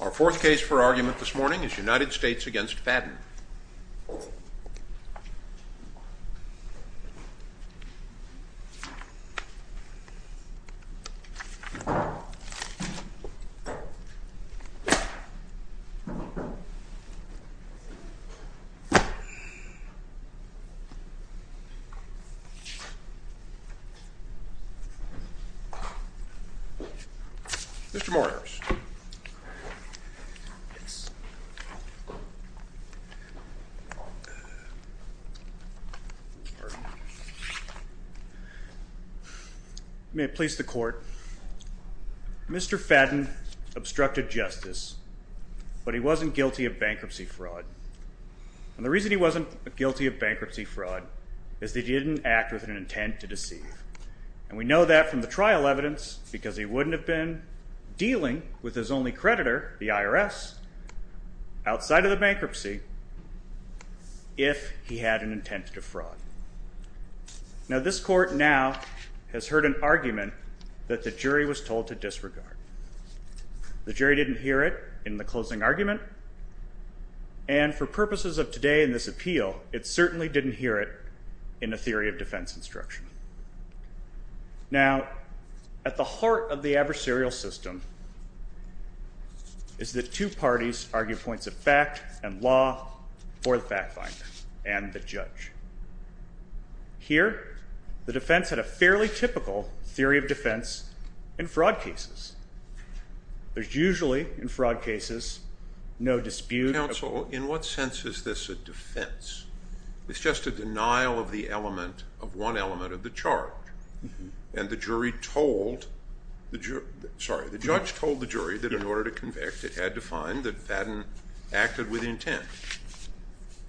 Our fourth case for argument this morning is United States v. Fadden. Mr. Morris. May it please the court, Mr. Fadden obstructed justice, but he wasn't guilty of bankruptcy fraud. And the reason he wasn't guilty of bankruptcy fraud is that he didn't act with an intent to deceive. And we know that from the trial evidence because he wouldn't have been dealing with his only creditor, the IRS, outside of the bankruptcy if he had an intent to fraud. Now this court now has heard an argument that the jury was told to disregard. The jury didn't hear it in the closing argument. And for purposes of today in this appeal, it certainly didn't hear it in the theory of defense instruction. Now at the heart of the adversarial system is that two parties argue points of fact and law for the fact finder and the judge. Here the defense had a fairly typical theory of defense in fraud cases. There's usually in fraud cases, no dispute. Counsel, in what sense is this a defense? It's just a denial of the element, of one element of the charge. And the jury told, sorry, the judge told the jury that in order to convict it had to find that Fadden acted with intent.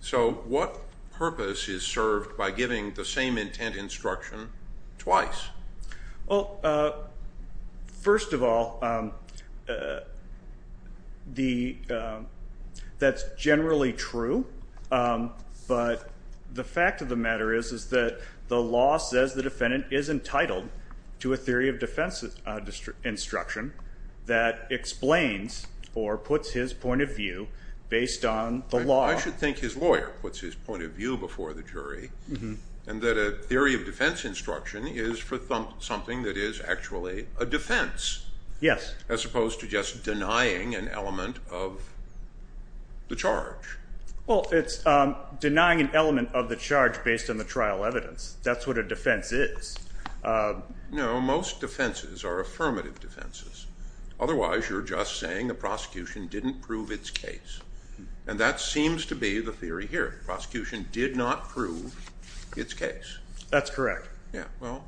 So what purpose is served by giving the same intent instruction twice? Well, first of all, that's generally true. But the fact of the matter is that the law says the defendant is entitled to a theory of defense instruction that explains or puts his point of view based on the law. I should think his lawyer puts his point of view before the jury and that a theory of something that is actually a defense as opposed to just denying an element of the charge. Well, it's denying an element of the charge based on the trial evidence. That's what a defense is. No, most defenses are affirmative defenses. Otherwise, you're just saying the prosecution didn't prove its case. And that seems to be the theory here. Prosecution did not prove its case. That's correct. Yeah, well,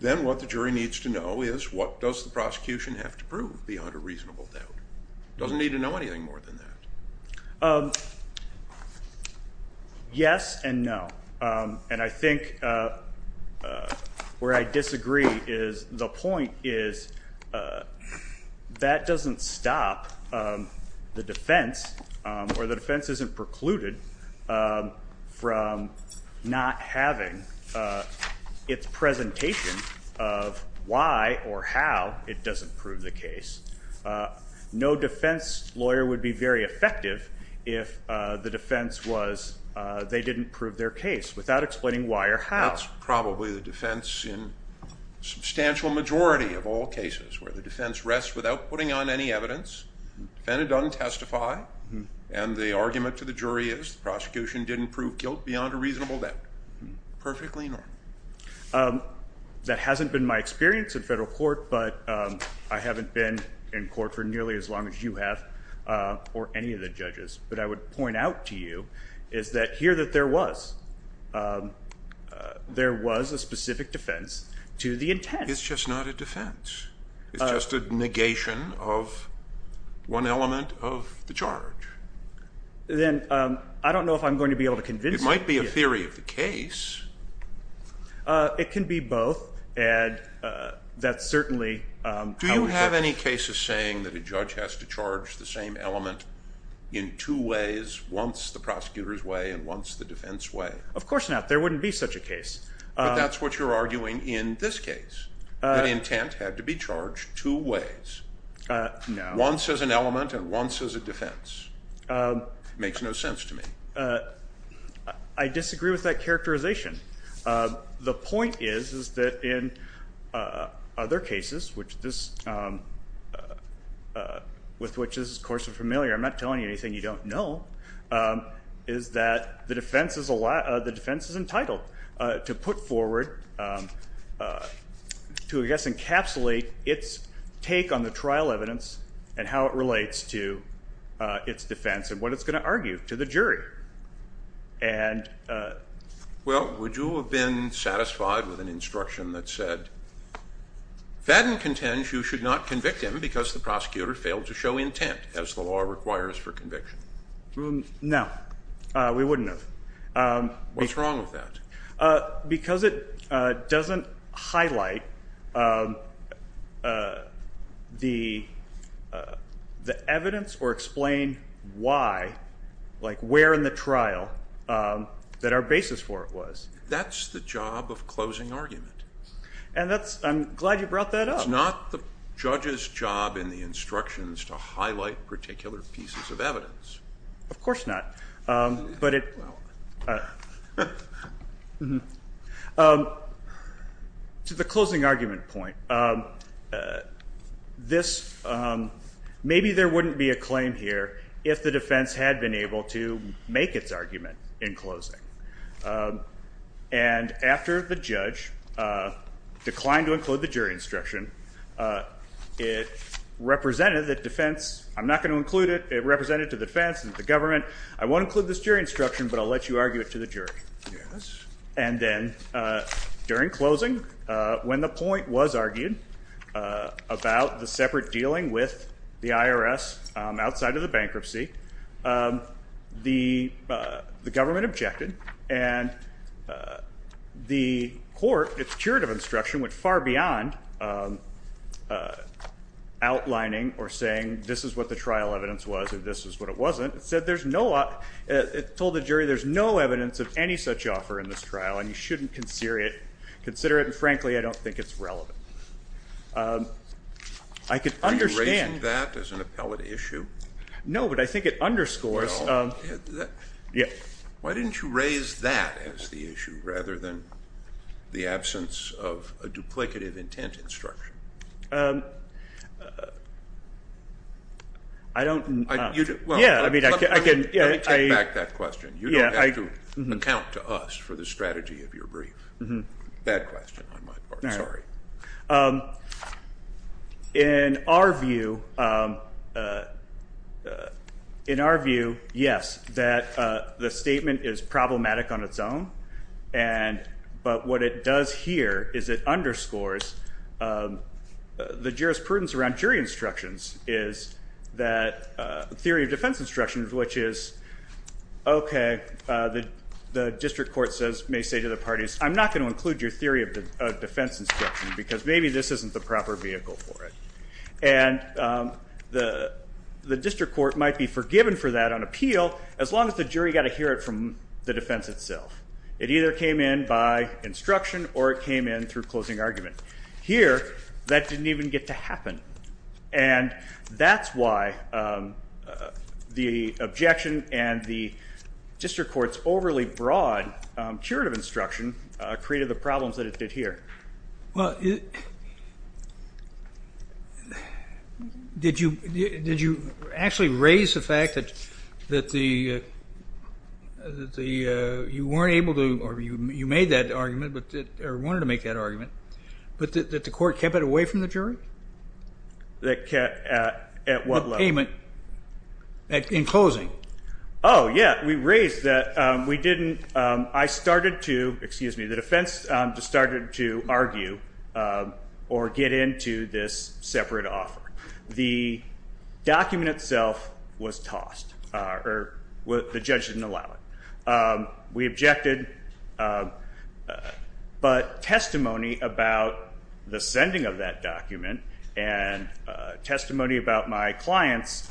then what the jury needs to know is what does the prosecution have to prove beyond a reasonable doubt? Doesn't need to know anything more than that. Yes and no. And I think where I disagree is the point is that doesn't stop the defense or the defense isn't precluded from not having its presentation of why or how it doesn't prove the case. No defense lawyer would be very effective if the defense was they didn't prove their case without explaining why or how. That's probably the defense in substantial majority of all cases where the defense rests without putting on any evidence, defendant doesn't testify, and the argument to the jury is the prosecution didn't prove guilt beyond a reasonable doubt. Perfectly normal. That hasn't been my experience in federal court, but I haven't been in court for nearly as long as you have or any of the judges. But I would point out to you is that here that there was, there was a specific defense to the intent. It's just not a defense. It's just a negation of one element of the charge. Then I don't know if I'm going to be able to convince you. It might be a theory of the case. It can be both and that's certainly. Do you have any cases saying that a judge has to charge the same element in two ways, once the prosecutor's way and once the defense way? Of course not. There wouldn't be such a case. But that's what you're arguing in this case. The intent had to be charged two ways. Once as an element and once as a defense. Makes no sense to me. I disagree with that characterization. The point is, is that in other cases, which this, with which this is of course familiar, I'm not telling you anything you don't know, is that the defense is, the defense is entitled to put forward, to I guess encapsulate its take on the trial evidence and how it relates to its defense and what it's going to argue to the jury. And well, would you have been satisfied with an instruction that said, Fadden contends you should not convict him because the prosecutor failed to show intent as the law requires for conviction? No, we wouldn't have. What's wrong with that? Because it doesn't highlight the evidence or explain why, like where in the trial that our basis for it was. That's the job of closing argument. And that's, I'm glad you brought that up. It's not the judge's job in the instructions to highlight particular pieces of evidence. Of course not. But it, to the closing argument point, this, maybe there wouldn't be a claim here if the defense had been able to make its argument in closing. And after the judge declined to include the jury instruction, it represented that defense, I'm not going to include it. It represented to the defense and the government, I won't include this jury instruction, but I'll let you argue it to the jury. And then during closing, when the point was argued about the separate dealing with the IRS outside of the bankruptcy, the government objected. And the court, its curative instruction went far beyond outlining or saying this is what the trial evidence was, or this is what it wasn't. It said there's no, it told the jury there's no evidence of any such offer in this trial and you shouldn't consider it, and frankly, I don't think it's relevant. I could understand. Are you raising that as an appellate issue? No, but I think it underscores. Yeah. Why didn't you raise that as the issue rather than the absence of a duplicative intent instruction? I don't. Well, let me take back that question. You don't have to account to us for the strategy of your brief. Bad question on my part, sorry. In our view, in our view, yes, that the statement is problematic on its own, but what it does here is it underscores the jurisprudence around jury instructions is that theory of defense instructions, which is, okay, the district court may say to the parties, I'm not going to include your theory of defense instruction, because maybe this isn't the proper vehicle for it. And the district court might be forgiven for that on appeal, as long as the jury got to hear it from the defense itself. It either came in by instruction or it came in through closing argument. Here that didn't even get to happen. And that's why the objection and the district court's overly broad jurative instruction created the problems that it did here. Well, did you actually raise the fact that you weren't able to, or you made that argument, or wanted to make that argument, but that the court kept it away from the jury? That kept at what level? The payment, in closing. Oh, yeah. We raised that we didn't, I started to, excuse me, the defense just started to argue or get into this separate offer. The document itself was tossed, or the judge didn't allow it. We objected, but testimony about the sending of that document and testimony about my client's,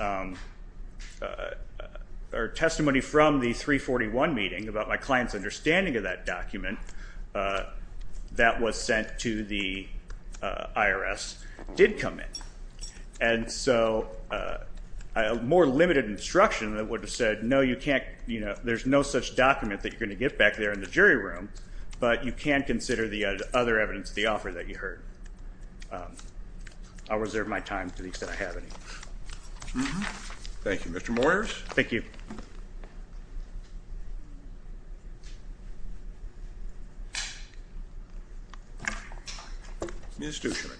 or testimony from the 341 meeting about my client's understanding of that document that was sent to the IRS did come in. And so more limited instruction that would have said, no, you can't, there's no such document that you're going to get back there in the jury room, but you can consider the other evidence, the offer that you heard. I'll reserve my time to the extent I have any. Thank you. Mr. Moyers. Thank you. Ms. Dushman.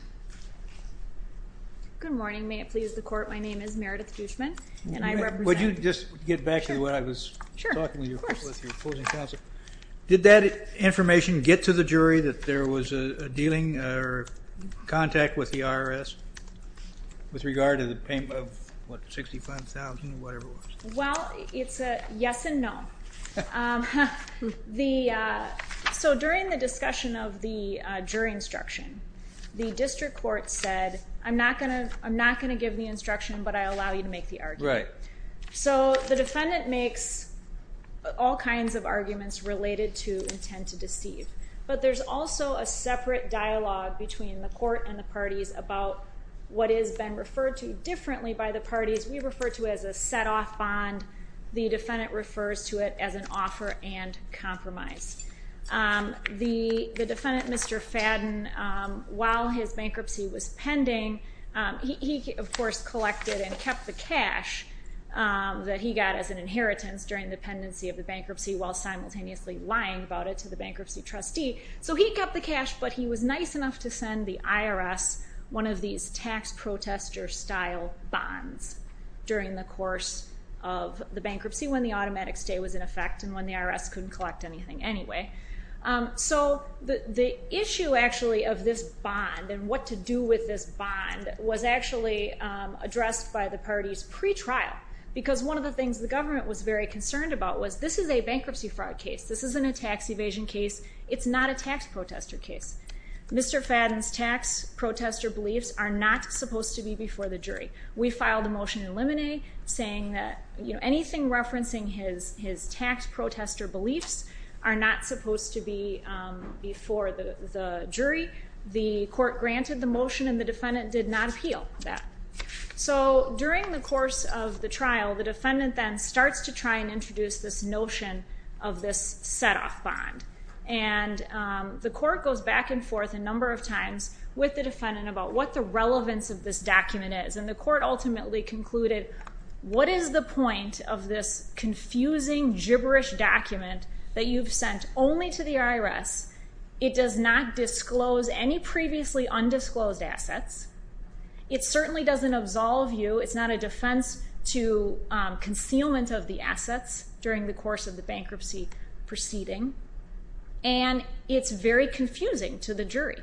Good morning. May it please the court. My name is Meredith Dushman, and I represent. Would you just get back to what I was talking to you about with your closing counsel? Sure. Did that information get to the jury that there was a dealing, or that there was a contact with the IRS with regard to the payment of $65,000 or whatever it was? Well, it's a yes and no. So during the discussion of the jury instruction, the district court said, I'm not going to give the instruction, but I allow you to make the argument. Right. So the defendant makes all kinds of arguments related to intent to deceive. But there's also a separate dialogue between the court and the parties about what has been referred to differently by the parties. We refer to it as a set-off bond. The defendant refers to it as an offer and compromise. The defendant, Mr. Fadden, while his bankruptcy was pending, he, of course, collected and kept the cash that he got as an inheritance during the pendency of the bankruptcy while simultaneously lying about it to the bankruptcy trustee. So he kept the cash, but he was nice enough to send the IRS one of these tax protester-style bonds during the course of the bankruptcy when the automatic stay was in effect and when the IRS couldn't collect anything anyway. So the issue actually of this bond and what to do with this bond was actually addressed by the parties pretrial because one of the things the government was very concerned about was this is a bankruptcy fraud case. This isn't a tax evasion case. It's not a tax protester case. Mr. Fadden's tax protester beliefs are not supposed to be before the jury. We filed a motion in limine saying that anything referencing his tax protester beliefs are not supposed to be before the jury. The court granted the motion, and the defendant did not appeal that. During the course of the trial, the defendant then starts to try and introduce this notion of this set-off bond. The court goes back and forth a number of times with the defendant about what the relevance of this document is, and the court ultimately concluded, what is the point of this confusing, gibberish document that you've sent only to the IRS? It does not disclose any previously undisclosed assets. It certainly doesn't absolve you. It's not a defense to concealment of the assets during the course of the bankruptcy proceeding, and it's very confusing to the jury.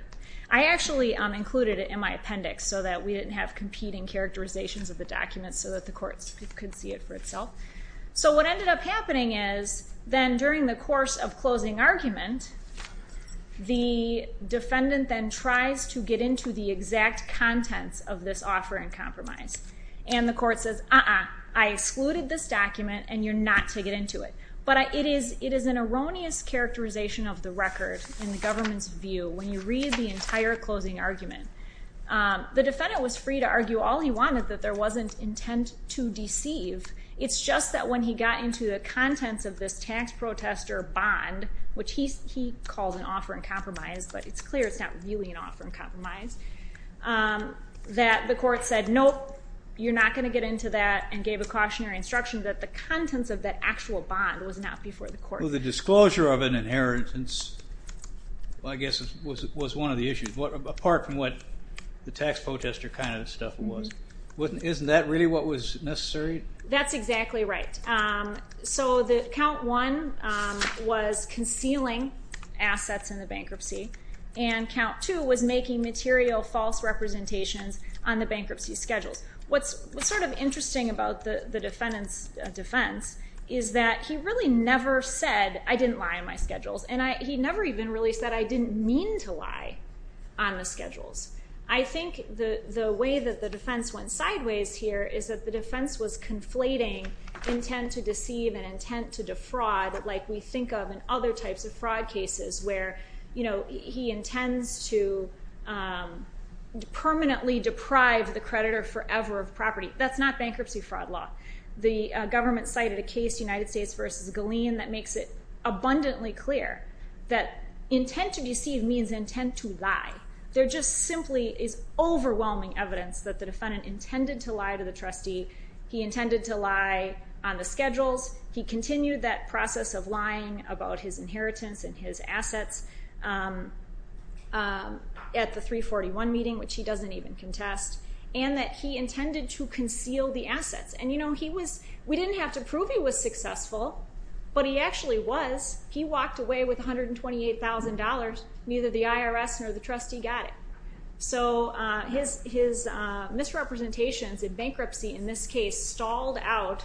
I actually included it in my appendix so that we didn't have competing characterizations of the documents so that the court could see it for itself. What ended up happening is then during the course of closing argument, the defendant then tries to get into the exact contents of this offer and compromise. The court says, uh-uh, I excluded this document, and you're not to get into it. It is an erroneous characterization of the record in the government's view when you read the entire closing argument. The defendant was free to argue all he wanted, that there wasn't intent to deceive. It's just that when he got into the contents of this tax protester bond, which he calls an offer and compromise, but it's clear it's not really an offer and compromise, that the court said, nope, you're not going to get into that, and gave a cautionary instruction that the contents of that actual bond was not before the court. Well, the disclosure of an inheritance, I guess, was one of the issues, apart from what the tax protester kind of stuff was. Isn't that really what was necessary? That's exactly right. So count one was concealing assets in the bankruptcy, and count two was making material false representations on the bankruptcy schedules. What's sort of interesting about the defendant's defense is that he really never said, I didn't lie on my schedules, and he never even really said I didn't mean to lie on the schedules. I think the way that the defense went sideways here is that the defense was conflating intent to deceive and intent to defraud like we think of in other types of fraud cases where he intends to permanently deprive the creditor forever of property. That's not bankruptcy fraud law. The government cited a case, United States v. Galeen, that makes it abundantly clear that intent to deceive means intent to lie. There just simply is overwhelming evidence that the defendant intended to lie to the trustee, he intended to lie on the schedules, he continued that process of lying about his inheritance and his assets at the 341 meeting, which he doesn't even contest, and that he intended to conceal the assets. We didn't have to prove he was successful, but he actually was. He walked away with $128,000. Neither the IRS nor the trustee got it. His misrepresentations in bankruptcy in this case stalled out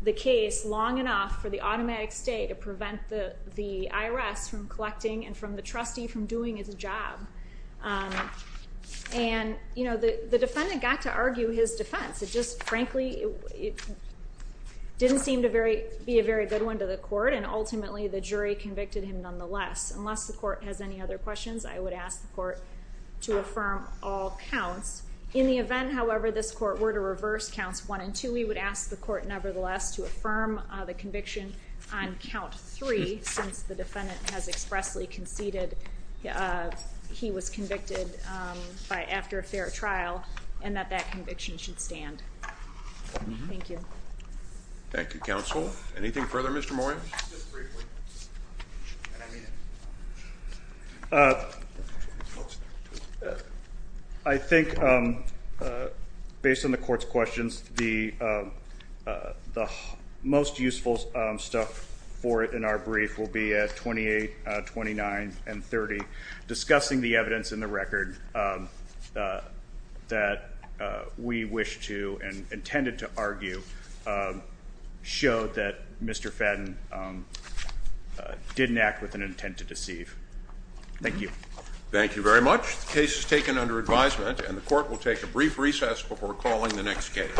the case long enough for the automatic stay to prevent the IRS from collecting and from the trustee from doing his job. The defendant got to argue his defense. It just frankly didn't seem to be a very good one to the court, and ultimately the jury convicted him nonetheless. Unless the court has any other questions, I would ask the court to affirm all counts. In the event, however, this court were to reverse counts 1 and 2, we would ask the court nevertheless to affirm the conviction on count 3 since the defendant has expressly conceded he was convicted after a fair trial and that that conviction should stand. Thank you. Thank you, counsel. Anything further, Mr. Moyer? Just briefly, and I mean it. I think based on the court's questions, the most useful stuff for it in our brief will be at 28, 29, and 30 discussing the evidence in the record that we wish to and intended to argue showed that Mr. Fadden didn't act with an intent to deceive. Thank you. Thank you very much. The case is taken under advisement, and the court will take a brief recess before calling the next case.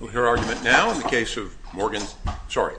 We'll hear argument now in the case of Morgan. Sorry.